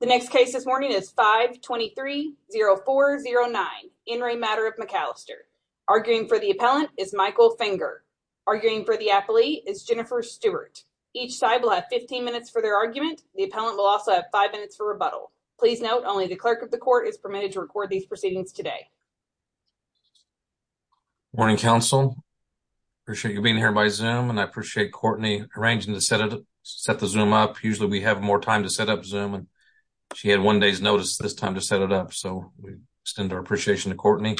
The next case this morning is 5-23-0409, Enry matter of McAllister. Arguing for the appellant is Michael Finger. Arguing for the appellee is Jennifer Stewart. Each side will have 15 minutes for their argument. The appellant will also have five minutes for rebuttal. Please note, only the clerk of the court is permitted to record these proceedings today. Morning, counsel. Appreciate you being here by Zoom, and I appreciate Courtney arranging to set the Zoom up. Usually, we have more time to set up Zoom, and she had one day's notice this time to set it up, so we extend our appreciation to Courtney.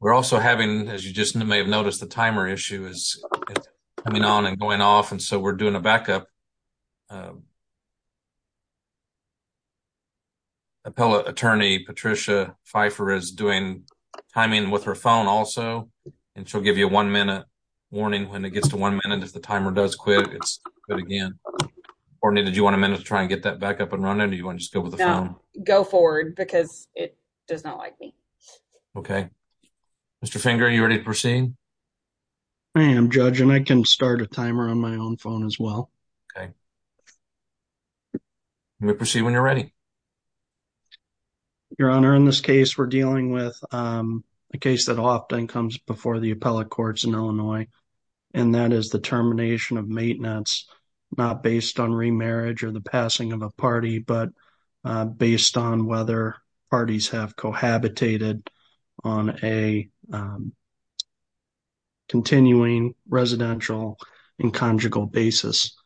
We're also having, as you just may have noticed, the timer issue is coming on and going off, and so we're doing a backup. Appellate attorney Patricia Pfeiffer is doing timing with her phone also, and she'll give you a one-minute warning when it gets to one minute. If the timer does quit, it's good again. Courtney, did you want a minute to try and get that back up and running, or do you want to just go with the phone? No, go forward, because it does not like me. Okay. Mr. Finger, are you ready to proceed? I am, Judge, and I can start a timer on my own phone as well. Okay. You may proceed when you're ready. Your Honor, in this case, we're dealing with a case that often comes before the appellate courts in Illinois, and that is the termination of maintenance, not based on remarriage or the passing of a party, but based on whether parties have cohabitated on a continuing residential and conjugal basis.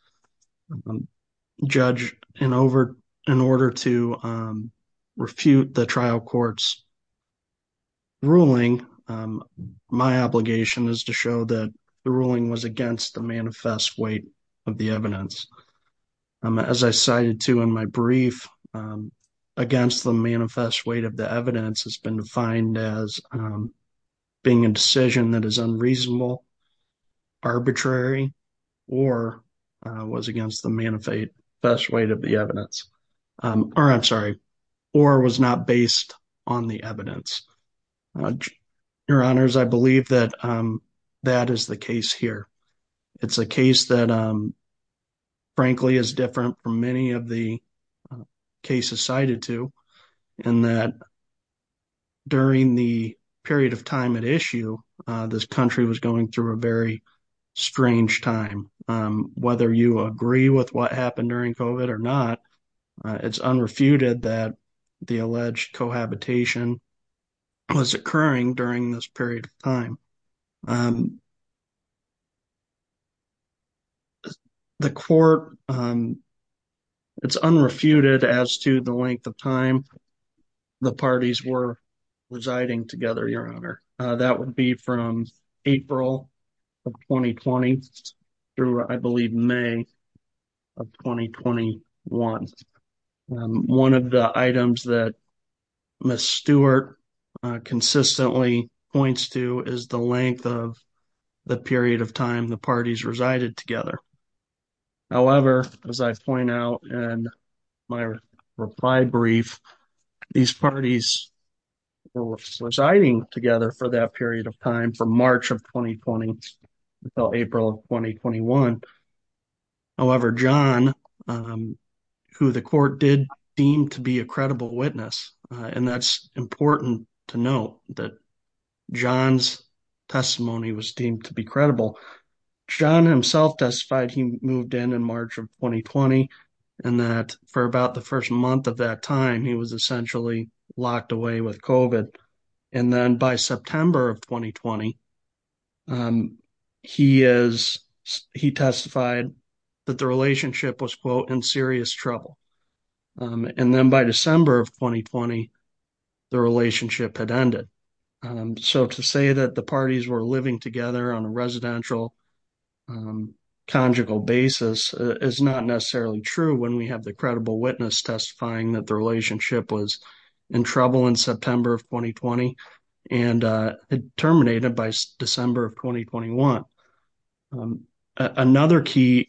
Judge, in order to refute the trial court's ruling, my obligation is to show that the ruling was against the manifest weight of the evidence. As I cited, too, in my brief, against the manifest weight of the evidence has been defined as being a decision that is unreasonable, arbitrary, or was against the manifest weight of the evidence. Your Honors, I believe that that is the case here. It's a case that, frankly, is different from many of the cases cited to, and that during the period of time at issue, this country was going through a very strange time. Whether you agree with what happened during COVID or not, it's unrefuted that the alleged cohabitation was occurring during this period of time. The court, it's unrefuted as to the length of time the parties were residing together, Your Honor. That would be from April of 2020 through, I believe, May of 2021. One of the items that Ms. Stewart consistently points to is the length of the period of time the parties resided together. However, as I point out in my reply brief, these parties were residing together for that period of time, from March of 2020 until April of 2021. However, John, who the court did deem to be a credible witness, and that's important to note that John's testimony was deemed to be credible. John himself testified he moved in in March of 2020, and that for about the first month of that time, he was essentially locked away with COVID. And then by September of 2020, he testified that the relationship was, quote, in serious trouble. And then by December of 2020, the relationship had ended. So to say that the parties were living together on a residential conjugal basis is not necessarily true when we have the credible witness testifying that the relationship was in trouble in September of 2020 and terminated by December of 2021. Another key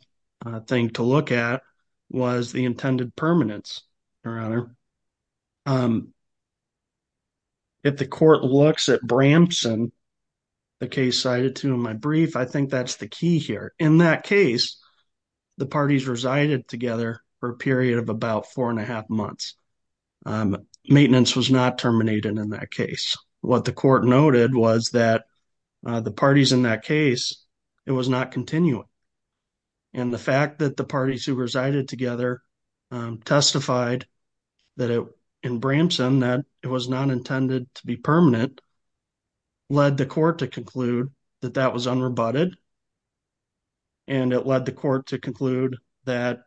thing to look at was the intended permanence, Your Honor. If the court looks at Bramson, the case cited to in my brief, I think that's the key here. In that case, the parties resided together for a period of about four and a half months. Maintenance was not terminated in that case. What the court noted was that the parties in that case, it was not continuing. And the fact that the parties who resided together testified in Bramson that it was not intended to be permanent led the court to conclude that that was unrebutted. And it led the court to conclude that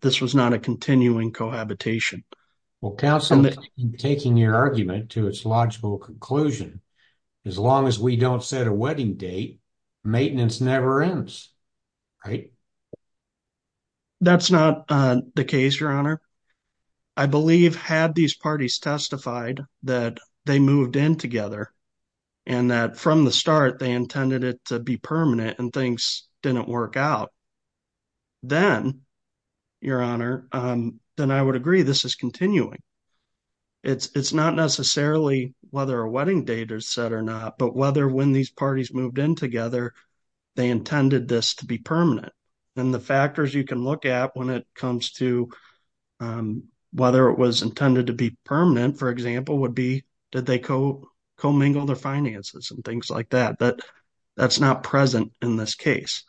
this was not a continuing cohabitation. Well, counsel, in taking your argument to its logical conclusion, as long as we don't set a wedding date, maintenance never ends, right? That's not the case, Your Honor. I believe had these parties testified that they moved in together and that from the start, they intended it to be permanent and things didn't work out, then, Your Honor, then I would agree this is continuing. It's not necessarily whether a wedding date is set or not, but whether when these parties moved in together, they intended this to be permanent. And the factors you can look at when it comes to whether it was intended to be permanent, for example, would be did they co-mingle their finances and things like that, but that's not present in this case.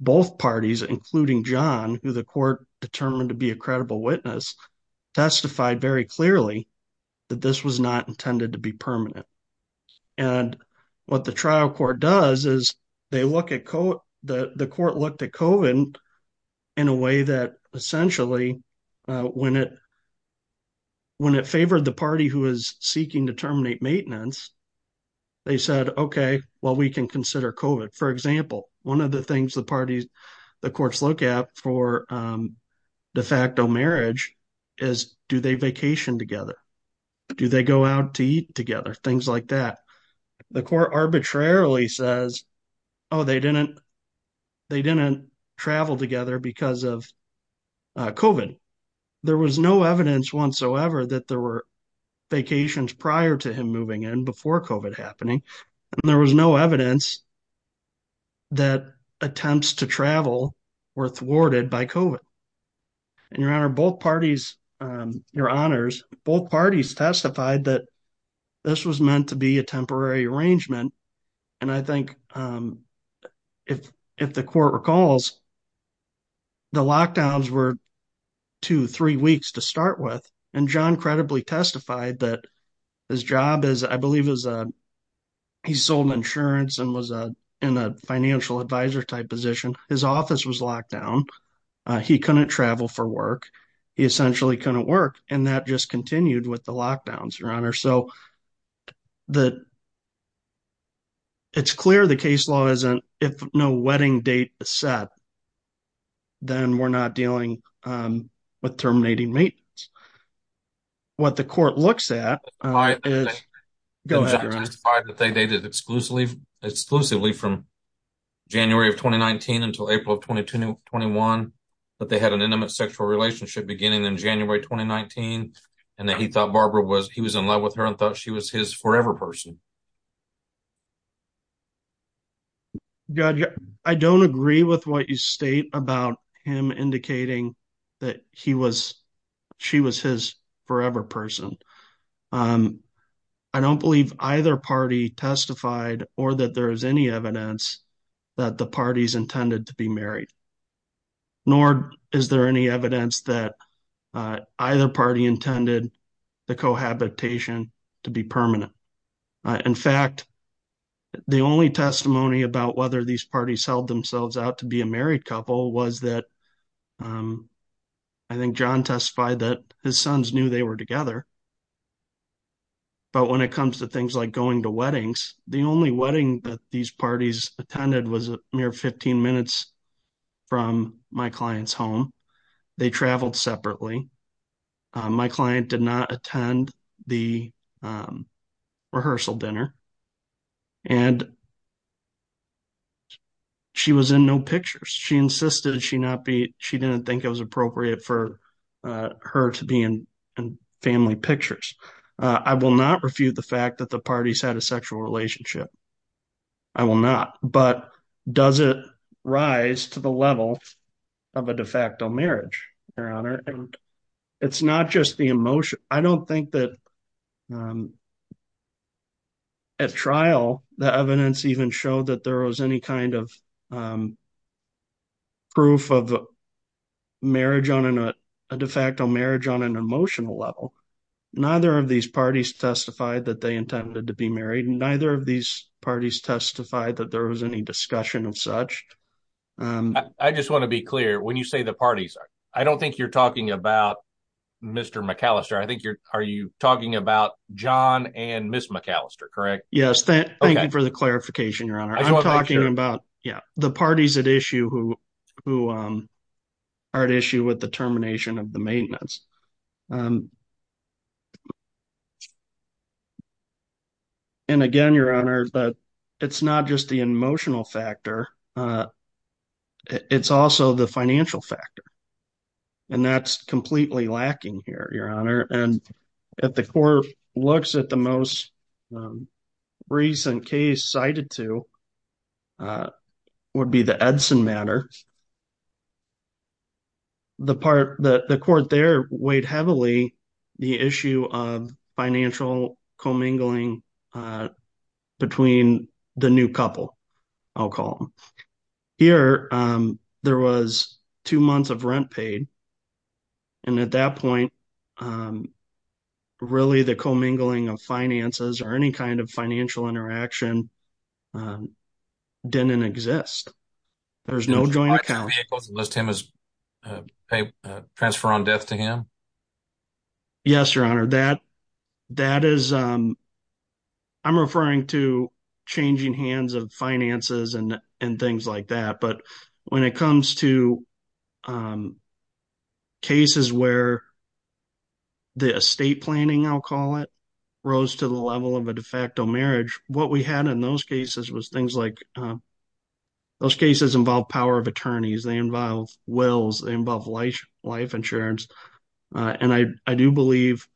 Both parties, including John, who the court determined to be a credible witness, testified very clearly that this was not intended to be permanent. And what the trial court does is they look at, the court looked at COVID in a way that essentially, when it favored the party who is seeking to terminate maintenance, they said, okay, well, we can consider COVID. For example, one of the things the parties, the courts look at for de facto marriage is do they vacation together? Do they go out to eat together? Things like that. The court arbitrarily says, oh, they didn't travel together because of COVID. There was no evidence whatsoever that there were vacations prior to him moving in before COVID happening. And there was no evidence that attempts to travel were thwarted by COVID. And your honor, both parties, your honors, both parties testified that this was meant to be a temporary arrangement. And I think if the court recalls, the lockdowns were two, three weeks to start with. And John credibly testified that his job is, I believe he sold insurance and was in a financial advisor type position. His office was locked down. He couldn't travel for work. He essentially couldn't work. And that just continued with the lockdowns, your honor. So it's clear the case law isn't, if no wedding date is set, then we're not dealing with terminating maintenance. What the court looks at is- Exclusively from January of 2019 until April of 2021, that they had an intimate sexual relationship beginning in January, 2019, and that he thought Barbara was, he was in love with her and thought she was his forever person. God, I don't agree with what you state about him indicating that he was, she was his forever person. I don't believe either party testified or that there is any evidence that the parties intended to be married, nor is there any evidence that either party intended the cohabitation to be permanent. In fact, the only testimony about whether these parties held themselves out to be a married couple was that, I think John testified that his sons knew they were together but when it comes to things like going to weddings, the only wedding that these parties attended was a mere 15 minutes from my client's home. They traveled separately. My client did not attend the rehearsal dinner and she was in no pictures. She insisted she not be, she didn't think it was appropriate I will not refute the fact that the parties had a sexual relationship. I will not, but does it rise to the level of a de facto marriage, Your Honor? And it's not just the emotion. I don't think that at trial, the evidence even showed that there was any kind of proof of marriage on, a de facto marriage on an emotional level. Neither of these parties testified that they intended to be married and neither of these parties testified that there was any discussion of such. I just wanna be clear. When you say the parties, I don't think you're talking about Mr. McAllister. I think you're, are you talking about John and Ms. McAllister, correct? Yes, thank you for the clarification, Your Honor. I'm talking about the parties at issue who are at issue with the termination of the maintenance. And again, Your Honor, it's not just the emotional factor. It's also the financial factor. And that's completely lacking here, Your Honor. And if the court looks at the most recent case cited to would be the Edson matter, the part that the court there weighed heavily the issue of financial co-mingling between the new couple, I'll call them. Here, there was two months of rent paid. And at that point, really the co-mingling of finances or any kind of financial interaction didn't exist. There's no joint account. Unless Tim was transferred on death to him. Yes, Your Honor. I'm referring to changing hands of finances and things like that. But when it comes to cases where the estate planning, I'll call it, rose to the level of a de facto marriage, what we had in those cases was things like, those cases involve power of attorneys, they involve wills, they involve life insurance. And I do believe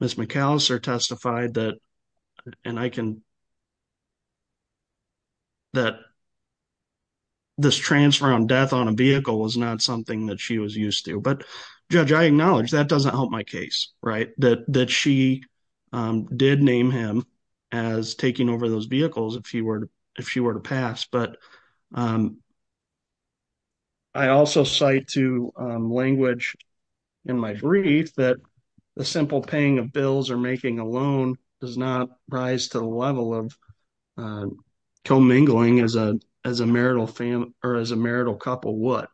Ms. McAllister testified that, and I can, that this transfer on death on a vehicle was not something that she was used to. But Judge, I acknowledge that doesn't help my case, right? That she did name him as taking over those vehicles if she were to pass. But I also cite to language in my brief that the simple paying of bills or making a loan does not rise to the level of co-mingling as a marital family or as a marital couple would.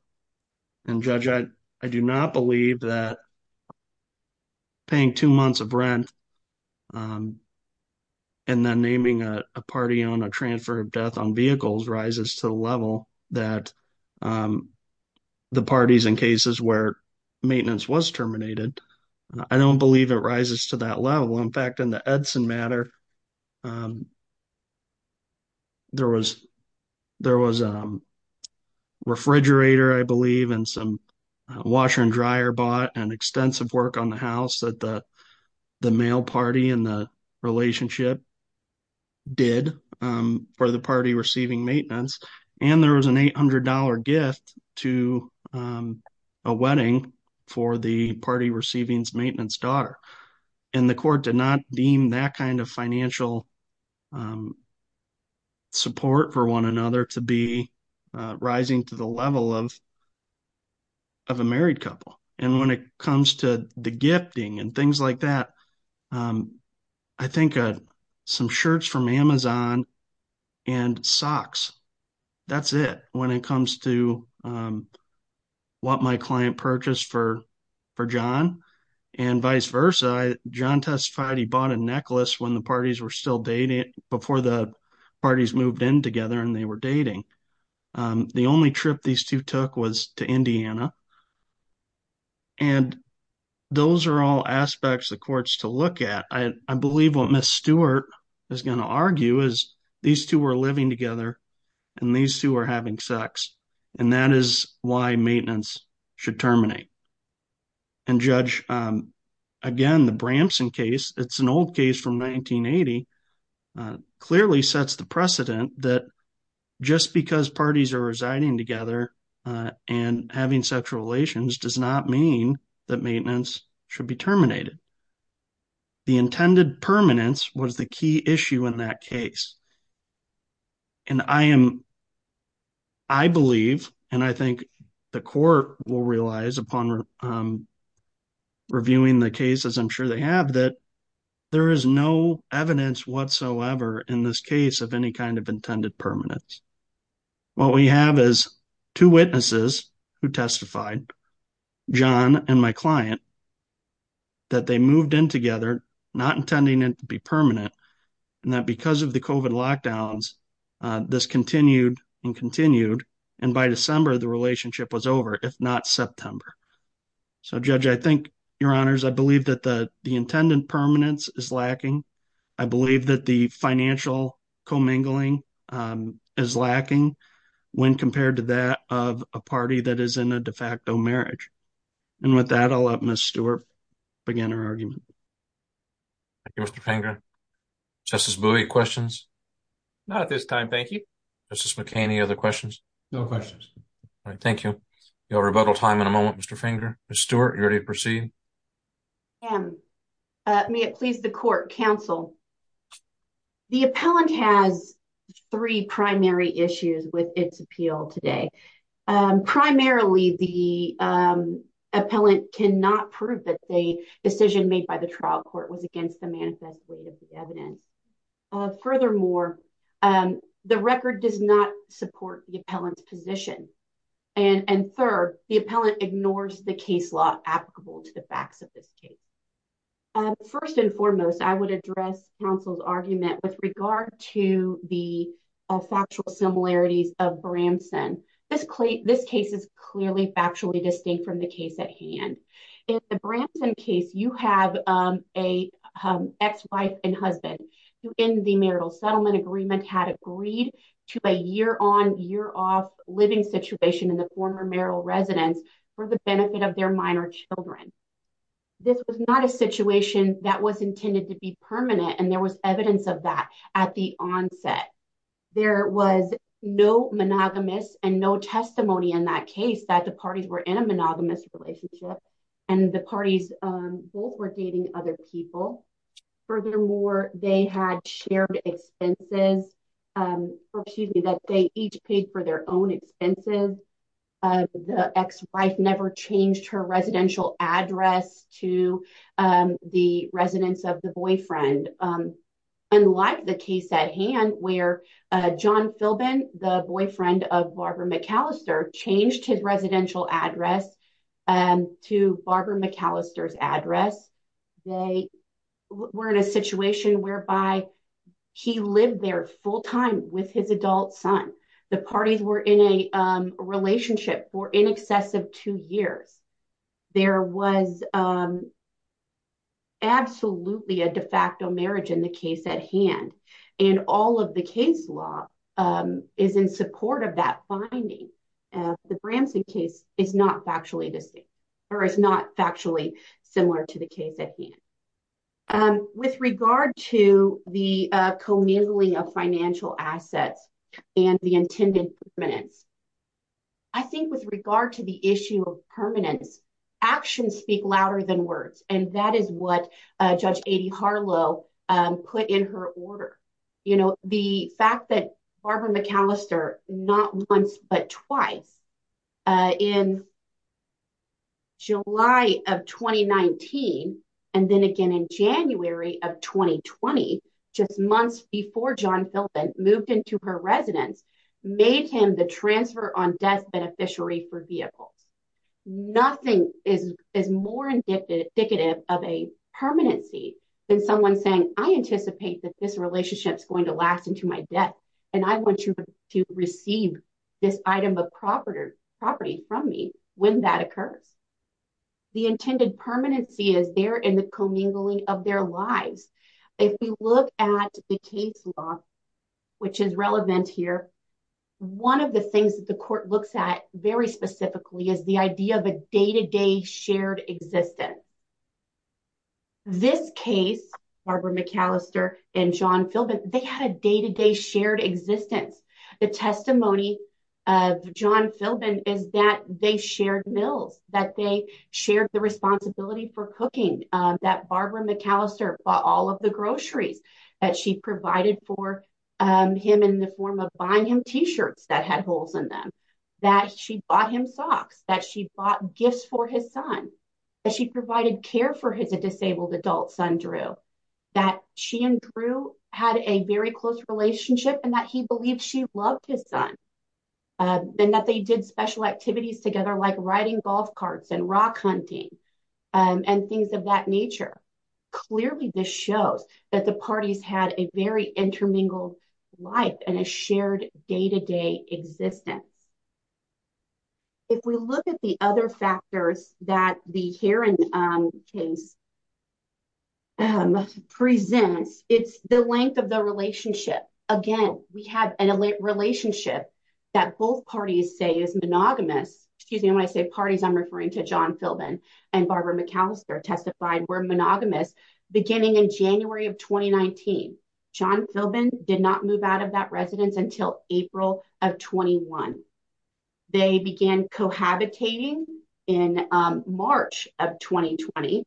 And Judge, I do not believe that paying two months of rent and then naming a party on a transfer of death on vehicles rises to the level that the parties in cases where maintenance was terminated. I don't believe it rises to that level. In fact, in the Edson matter, there was a refrigerator, I believe, and some washer and dryer bought and extensive work on the house that the male party in the relationship did for the party receiving maintenance. And there was an $800 gift to a wedding for the party receiving maintenance daughter. And the court did not deem that kind of financial support for one another to be rising to the level of a married couple. And when it comes to the gifting and things like that, I think some shirts from Amazon and socks, that's it when it comes to what my client purchased for John and vice versa. John testified he bought a necklace when the parties were still dating before the parties moved in together and they were dating. The only trip these two took was to Indiana. And those are all aspects the courts to look at. I believe what Ms. Stewart is going to argue is these two were living together and these two are having sex. And that is why maintenance should terminate. And Judge, again, the Bramson case, it's an old case from 1980, clearly sets the precedent that just because parties are residing together and having sex relations does not mean that maintenance should be terminated. The intended permanence was the key issue in that case. And I am, I believe, and I think the court will realize upon reviewing the cases I'm sure they have that there is no evidence whatsoever in this case of any kind of intended permanence. What we have is two witnesses who testified, John and my client, that they moved in together not intending it to be permanent. And that because of the COVID lockdowns, this continued and continued. And by December, the relationship was over, if not September. So Judge, I think, your honors, I believe that the intended permanence is lacking. I believe that the financial commingling is lacking when compared to that of a party that is in a de facto marriage. And with that, I'll let Ms. Stewart begin her argument. Thank you, Mr. Finger. Justice Bowie, questions? Not at this time, thank you. Justice McCain, any other questions? No questions. All right, thank you. You'll have rebuttal time in a moment, Mr. Finger. Ms. Stewart, are you ready to proceed? I am. May it please the court, counsel. The appellant has three primary issues with its appeal today. Primarily, the appellant cannot prove that the decision made by the trial court was against the manifest weight of the evidence. Furthermore, the record does not support the appellant's position. And third, the appellant ignores the case law applicable to the facts of this case. First and foremost, I would address counsel's argument with regard to the factual similarities of Bramson. This case is clearly factually distinct from the case at hand. In the Bramson case, you have a ex-wife and husband who in the marital settlement agreement had agreed to a year-on, year-off living situation in the former marital residence for the benefit of their minor children. This was not a situation that was intended to be permanent, and there was evidence of that at the onset. There was no monogamous and no testimony in that case that the parties were in a monogamous relationship and the parties both were dating other people. Furthermore, they had shared expenses, or excuse me, that they each paid for their own expenses. The ex-wife never changed her residential address to the residence of the boyfriend. Unlike the case at hand where John Philbin, the boyfriend of Barbara McAllister, changed his residential address to Barbara McAllister's address, they were in a situation whereby he lived there full-time with his adult son. The parties were in a relationship for in excess of two years. There was absolutely a de facto marriage in the case at hand, and all of the case law is in support of that finding. The Bramson case is not factually distinct, or is not factually similar to the case at hand. With regard to the commingling of financial assets and the intended permanence, I think with regard to the issue of permanence, actions speak louder than words, and that is what Judge Aidy Harlow put in her order. The fact that Barbara McAllister, not once but twice, in July of 2019, and then again in January of 2020, just months before John Philbin, moved into her residence, made him the transfer on death beneficiary for vehicles. Nothing is more indicative of a permanency than someone saying, I anticipate that this relationship's going to last into my death, and I want you to receive this item of property from me when that occurs. The intended permanency is there in the commingling of their lives. If we look at the case law, which is relevant here, one of the things that the court looks at very specifically is the idea of a day-to-day shared existence. This case, Barbara McAllister and John Philbin, they had a day-to-day shared existence. The testimony of John Philbin is that they shared mills, that they shared the responsibility for cooking, that Barbara McAllister bought all of the groceries that she provided for him in the form of buying him T-shirts that had holes in them, that she bought him socks, that she bought gifts for his son, that she provided care for his disabled adult son, Drew, that she and Drew had a very close relationship and that he believed she loved his son, and that they did special activities together like riding golf carts and rock hunting and things of that nature. Clearly, this shows that the parties had a very intermingled life and a shared day-to-day existence. If we look at the other factors that the Heron case presents, it's the length of the relationship. Again, we have a relationship that both parties say is monogamous. Excuse me, when I say parties, I'm referring to John Philbin and Barbara McAllister testified were monogamous beginning in January of 2019. John Philbin did not move out of that residence until April of 21. They began cohabitating in March of 2020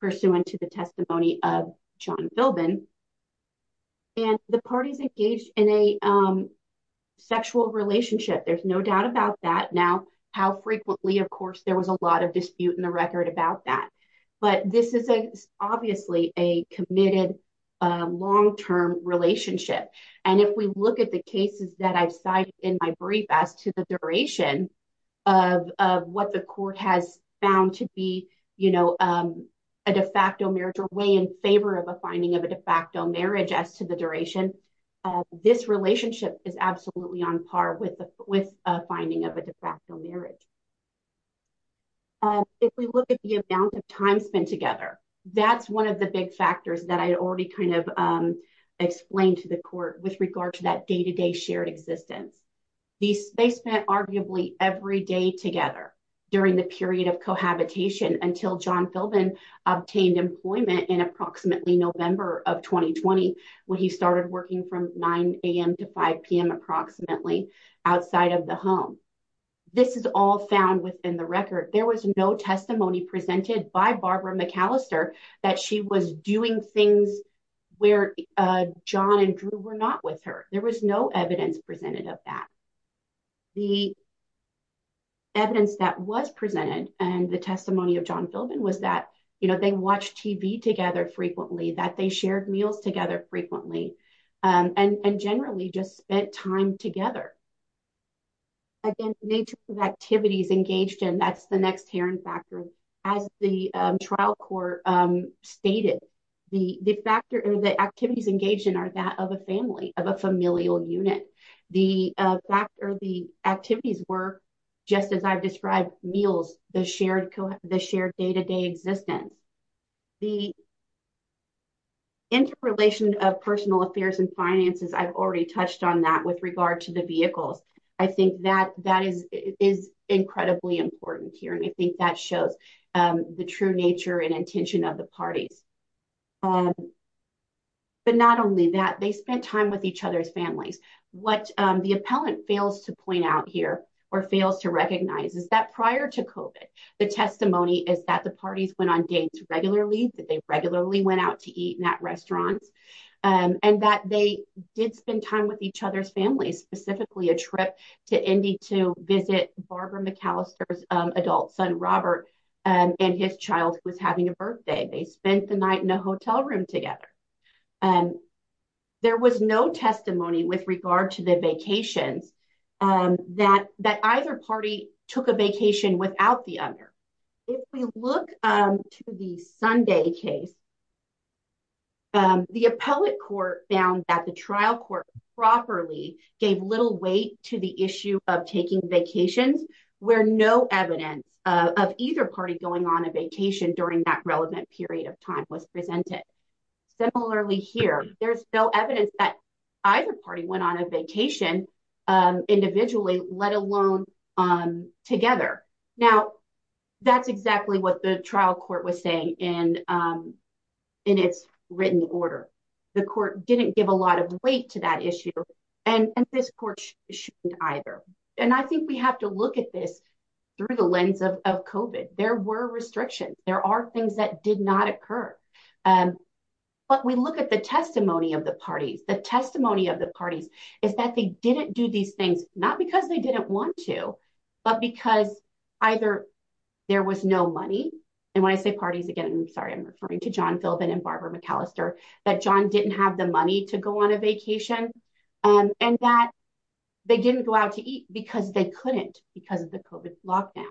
pursuant to the testimony of John Philbin, and the parties engaged in a sexual relationship. There's no doubt about that. How frequently, of course, there was a lot of dispute in the record about that. But this is obviously a committed long-term relationship. And if we look at the cases that I've cited in my brief as to the duration of what the court has found to be a de facto marriage or way in favor of a finding of a de facto marriage as to the duration, this relationship is absolutely on par with a finding of a de facto marriage. If we look at the amount of time spent together, that's one of the big factors that I already kind of explained to the court with regard to that day-to-day shared existence. They spent arguably every day together during the period of cohabitation until John Philbin obtained employment in approximately November of 2020 when he started working from 9 a.m. to 5 p.m. approximately outside of the home. This is all found within the record. There was no testimony presented by Barbara McAllister that she was doing things where John and Drew were not with her. There was no evidence presented of that. The evidence that was presented and the testimony of John Philbin was that they watched TV together frequently, that they shared meals together frequently and generally just spent time together. Again, nature of activities engaged in, that's the next hearing factor. As the trial court stated, the activities engaged in are that of a family, of a familial unit. The fact or the activities were just as I've described, meals, the shared day-to-day existence. The interrelation of personal affairs and finances, I've already touched on that with regard to the vehicles. I think that is incredibly important here and I think that shows the true nature and intention of the parties. But not only that, they spent time with each other's families. What the appellant fails to point out here or fails to recognize is that prior to COVID, the testimony is that the parties went on dates regularly, that they regularly went out to eat in that restaurants and that they did spend time with each other's families, specifically a trip to Indy to visit Barbara McAllister's adult son, Robert and his child was having a birthday. They spent the night in a hotel room together. There was no testimony with regard to the vacations that either party took a vacation without the other. If we look to the Sunday case, the appellate court found that the trial court properly gave little weight to the issue of taking vacations where no evidence of either party going on a vacation during that relevant period of time was presented. Similarly here, there's no evidence that either party went on a vacation individually, let alone together. Now that's exactly what the trial court was saying in its written order. The court didn't give a lot of weight to that issue and this court shouldn't either. And I think we have to look at this through the lens of COVID. There were restrictions. There are things that did not occur. But we look at the testimony of the parties. The testimony of the parties is that they didn't do these things not because they didn't want to, but because either there was no money. And when I say parties, again, I'm sorry, I'm referring to John Philbin and Barbara McAllister, that John didn't have the money to go on a vacation and that they didn't go out to eat because they couldn't because of the COVID lockdowns.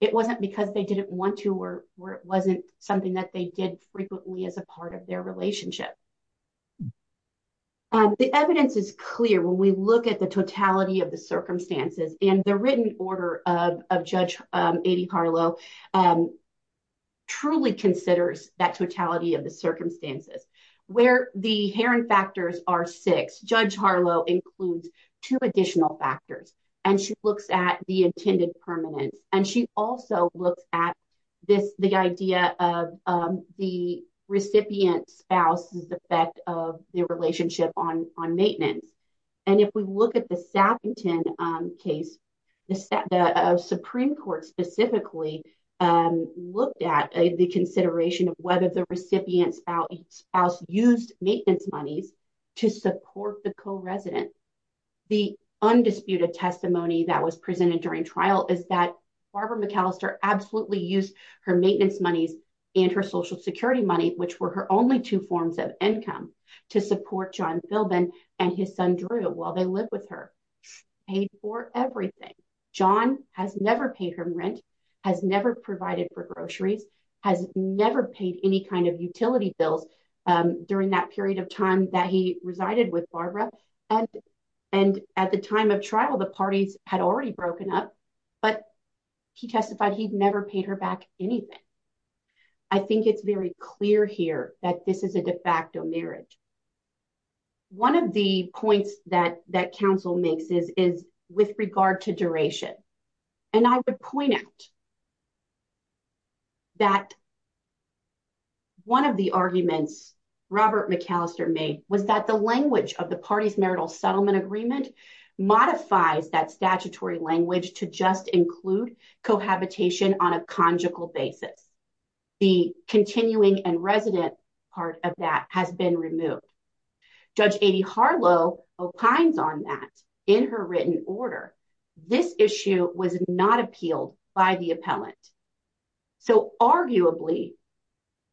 It wasn't because they didn't want to or it wasn't something that they did frequently as a part of their relationship. The evidence is clear. When we look at the totality of the circumstances and the written order of Judge Adie Harlow truly considers that totality of the circumstances. Where the Heron factors are six, Judge Harlow includes two additional factors and she looks at the intended permanence. And she also looks at the idea of the recipient spouse as the effect of the relationship on maintenance. And if we look at the Sappington case, the Supreme Court specifically looked at the consideration of whether the recipient spouse used maintenance monies to support the co-resident. The undisputed testimony that was presented during trial is that Barbara McAllister absolutely used her maintenance monies and her social security money, which were her only two forms of income to support John Philbin and his son Drew while they lived with her. Paid for everything. John has never paid her rent, has never provided for groceries, has never paid any kind of utility bills during that period of time that he resided with Barbara. And at the time of trial, the parties had already broken up but he testified he'd never paid her back anything. I think it's very clear here that this is a de facto marriage. One of the points that council makes is with regard to duration. And I would point out that one of the arguments Robert McAllister made was that the language of the parties marital settlement agreement modifies that statutory language to just include cohabitation on a conjugal basis. The continuing and resident part of that has been removed. Judge Aidy Harlow opines on that in her written order. This issue was not appealed by the appellant. So arguably,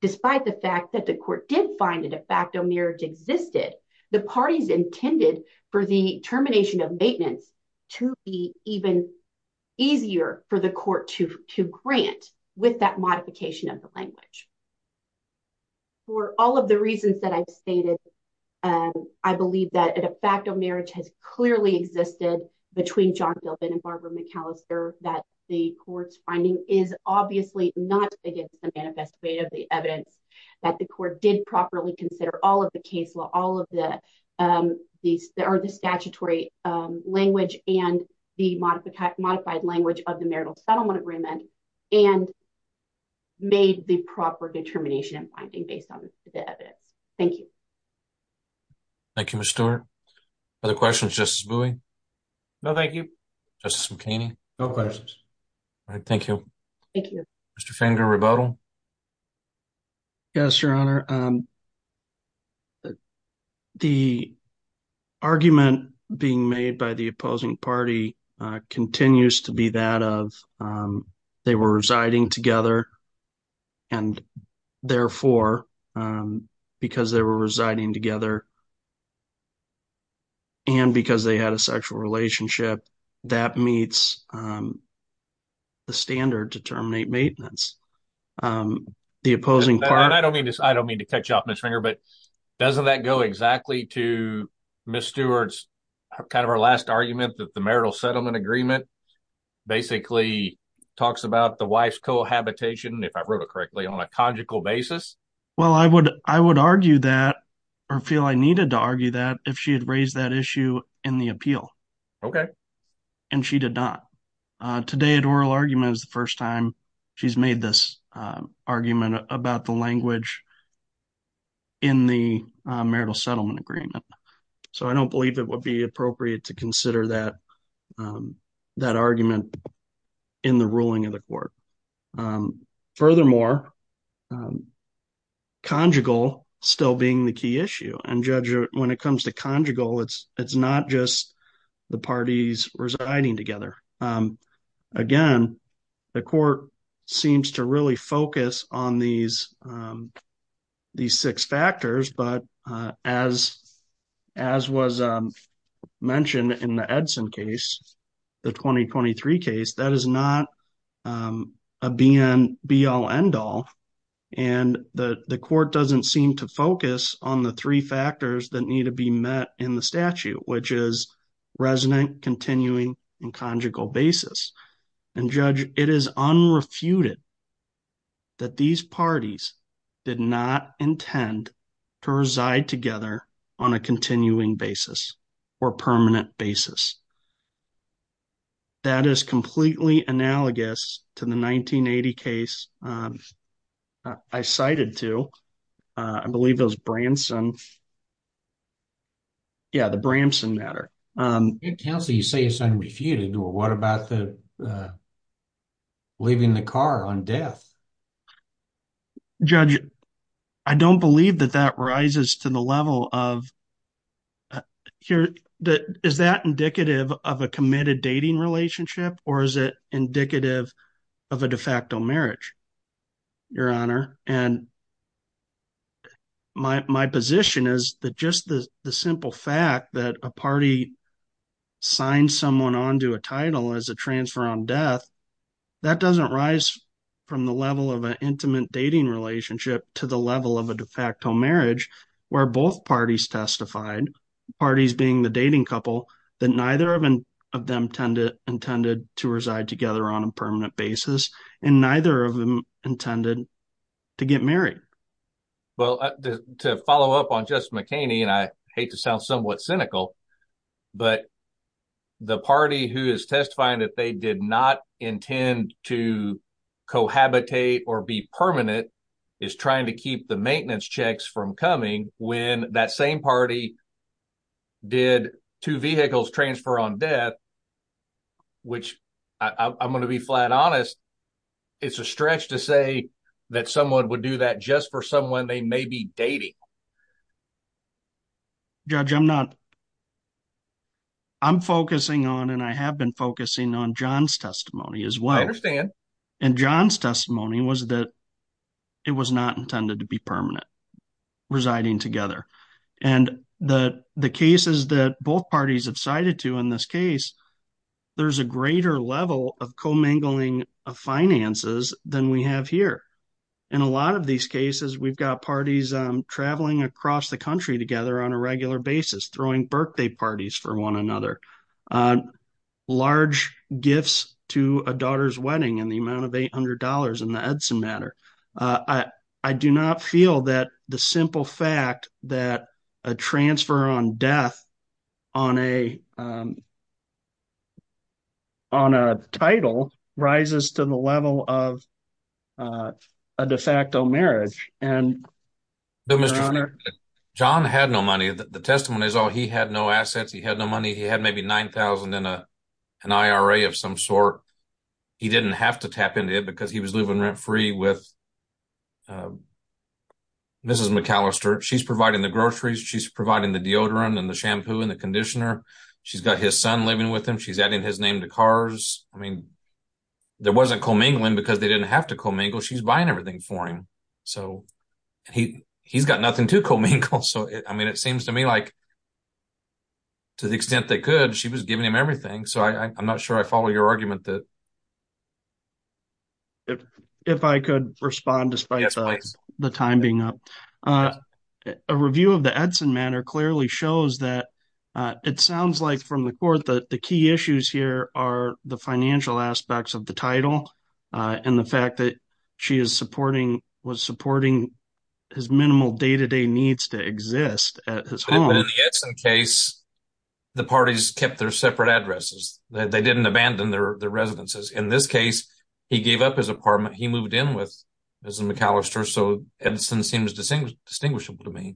despite the fact that the court did find a de facto marriage existed, the parties intended for the termination of maintenance to be even easier for the court to grant with that modification of the language. For all of the reasons that I've stated, I believe that a de facto marriage has clearly existed between John Feldman and Barbara McAllister that the court's finding is obviously not against the manifest way of the evidence that the court did properly consider all of the case law, all of the statutory language and the modified language of the marital settlement agreement and made the proper determination and finding based on the evidence. Thank you. Thank you, Ms. Stewart. Other questions, Justice Bowie? No, thank you. Justice McKinney? No questions. All right, thank you. Thank you. Mr. Fanger-Ribaudel? Yes, Your Honor. The argument being made by the opposing party continues to be that of they were residing together and therefore, because they were residing together and because they had a sexual relationship, that meets the standard to terminate maintenance. The opposing party- I don't mean to cut you off, Mr. Fanger, but doesn't that go exactly to Ms. Stewart's kind of her last argument that the marital settlement agreement basically talks about the wife's cohabitation, if I wrote it correctly, on a conjugal basis? Well, I would argue that or feel I needed to argue that if she had raised that issue in the appeal. Okay. And she did not. Today at oral argument is the first time she's made this argument about the language in the marital settlement agreement. So I don't believe it would be appropriate to consider that argument in the ruling of the court. Furthermore, conjugal still being the key issue. And Judge, when it comes to conjugal, it's not just the parties residing together. Again, the court seems to really focus on these six factors, but as was mentioned in the Edson case, the 2023 case, that is not a be-all, end-all. And the court doesn't seem to focus on the three factors that need to be met in the statute, which is resident, continuing, and conjugal basis. And Judge, it is unrefuted that these parties did not intend to reside together on a continuing basis or permanent basis. That is completely analogous to the 1980 case I cited to, I believe it was Branson. Yeah, the Branson matter. Counsel, you say it's unrefuted, well, what about the leaving the car on death? Judge, I don't believe that that rises to the level of, is that indicative of a committed dating relationship or is it indicative of a de facto marriage, Your Honor? And my position is that just the simple fact that a party signed someone onto a title as a transfer on death, that doesn't rise from the level of an intimate dating relationship to the level of a de facto marriage where both parties testified, parties being the dating couple, that neither of them intended to reside together on a permanent basis and neither of them intended to get married. Well, to follow up on Justice McHaney, and I hate to sound somewhat cynical, but the party who is testifying that they did not intend to cohabitate or be permanent is trying to keep the maintenance checks from coming when that same party did two vehicles transfer on death, which I'm gonna be flat honest, it's a stretch to say that someone would do that just for someone they may be dating. Judge, I'm not, I'm focusing on and I have been focusing on John's testimony as well. I understand. And John's testimony was that it was not intended to be permanent residing together. And the cases that both parties have cited to in this case, there's a greater level of co-mingling of finances than we have here. In a lot of these cases, we've got parties traveling across the country together on a regular basis, throwing birthday parties for one another, large gifts to a daughter's wedding in the amount of $800 in the Edson matter. I do not feel that the simple fact that a transfer on death on a title rises to the level of a de facto marriage and an honor. John had no money. The testimony is all he had no assets. He had no money. He had maybe 9,000 in an IRA of some sort. He didn't have to tap into it because he was living rent free with Mrs. McAllister. She's providing the groceries. She's providing the deodorant and the shampoo and the conditioner. She's got his son living with him. She's adding his name to cars. I mean, there wasn't co-mingling because they didn't have to co-mingle. She's buying everything for him. So he's got nothing to co-mingle. So, I mean, it seems to me like to the extent that could, she was giving him everything. So I'm not sure I follow your argument that. If I could respond despite the time being up. A review of the Edson matter clearly shows that it sounds like from the court that the key issues here are the financial aspects of the title and the fact that she is supporting, was supporting his minimal day-to-day needs to exist at his home. But in the Edson case, the parties kept their separate addresses. They didn't abandon their residences. In this case, he gave up his apartment. He moved in with Mrs. McAllister. So Edson seems distinguishable to me.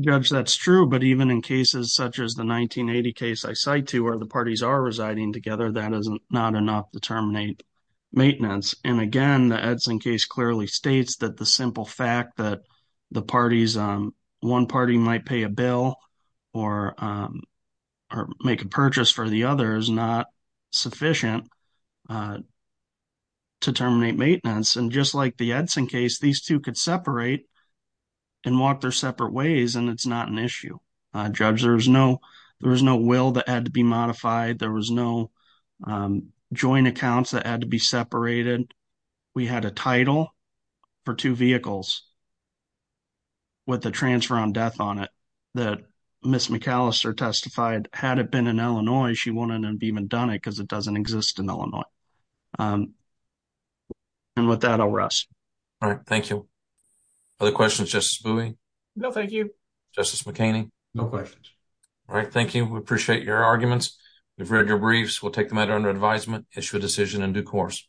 Judge, that's true. But even in cases such as the 1980 case I cite to where the parties are residing together, that is not enough to terminate maintenance. And again, the Edson case clearly states that the simple fact that the parties, one party might pay a bill or make a purchase for the other is not sufficient to terminate maintenance. And just like the Edson case, these two could separate and walk their separate ways and it's not an issue. Judge, there was no will that had to be modified. There was no joint accounts that had to be separated. We had a title for two vehicles with the transfer on death on it that Mrs. McAllister testified. Had it been in Illinois, she wouldn't have even done it because it doesn't exist in Illinois. And with that, I'll rest. All right, thank you. Other questions, Justice Bowie? No, thank you. Justice McKinney? No questions. All right, thank you. We appreciate your arguments. We've read your briefs. We'll take the matter under advisement, issue a decision in due course.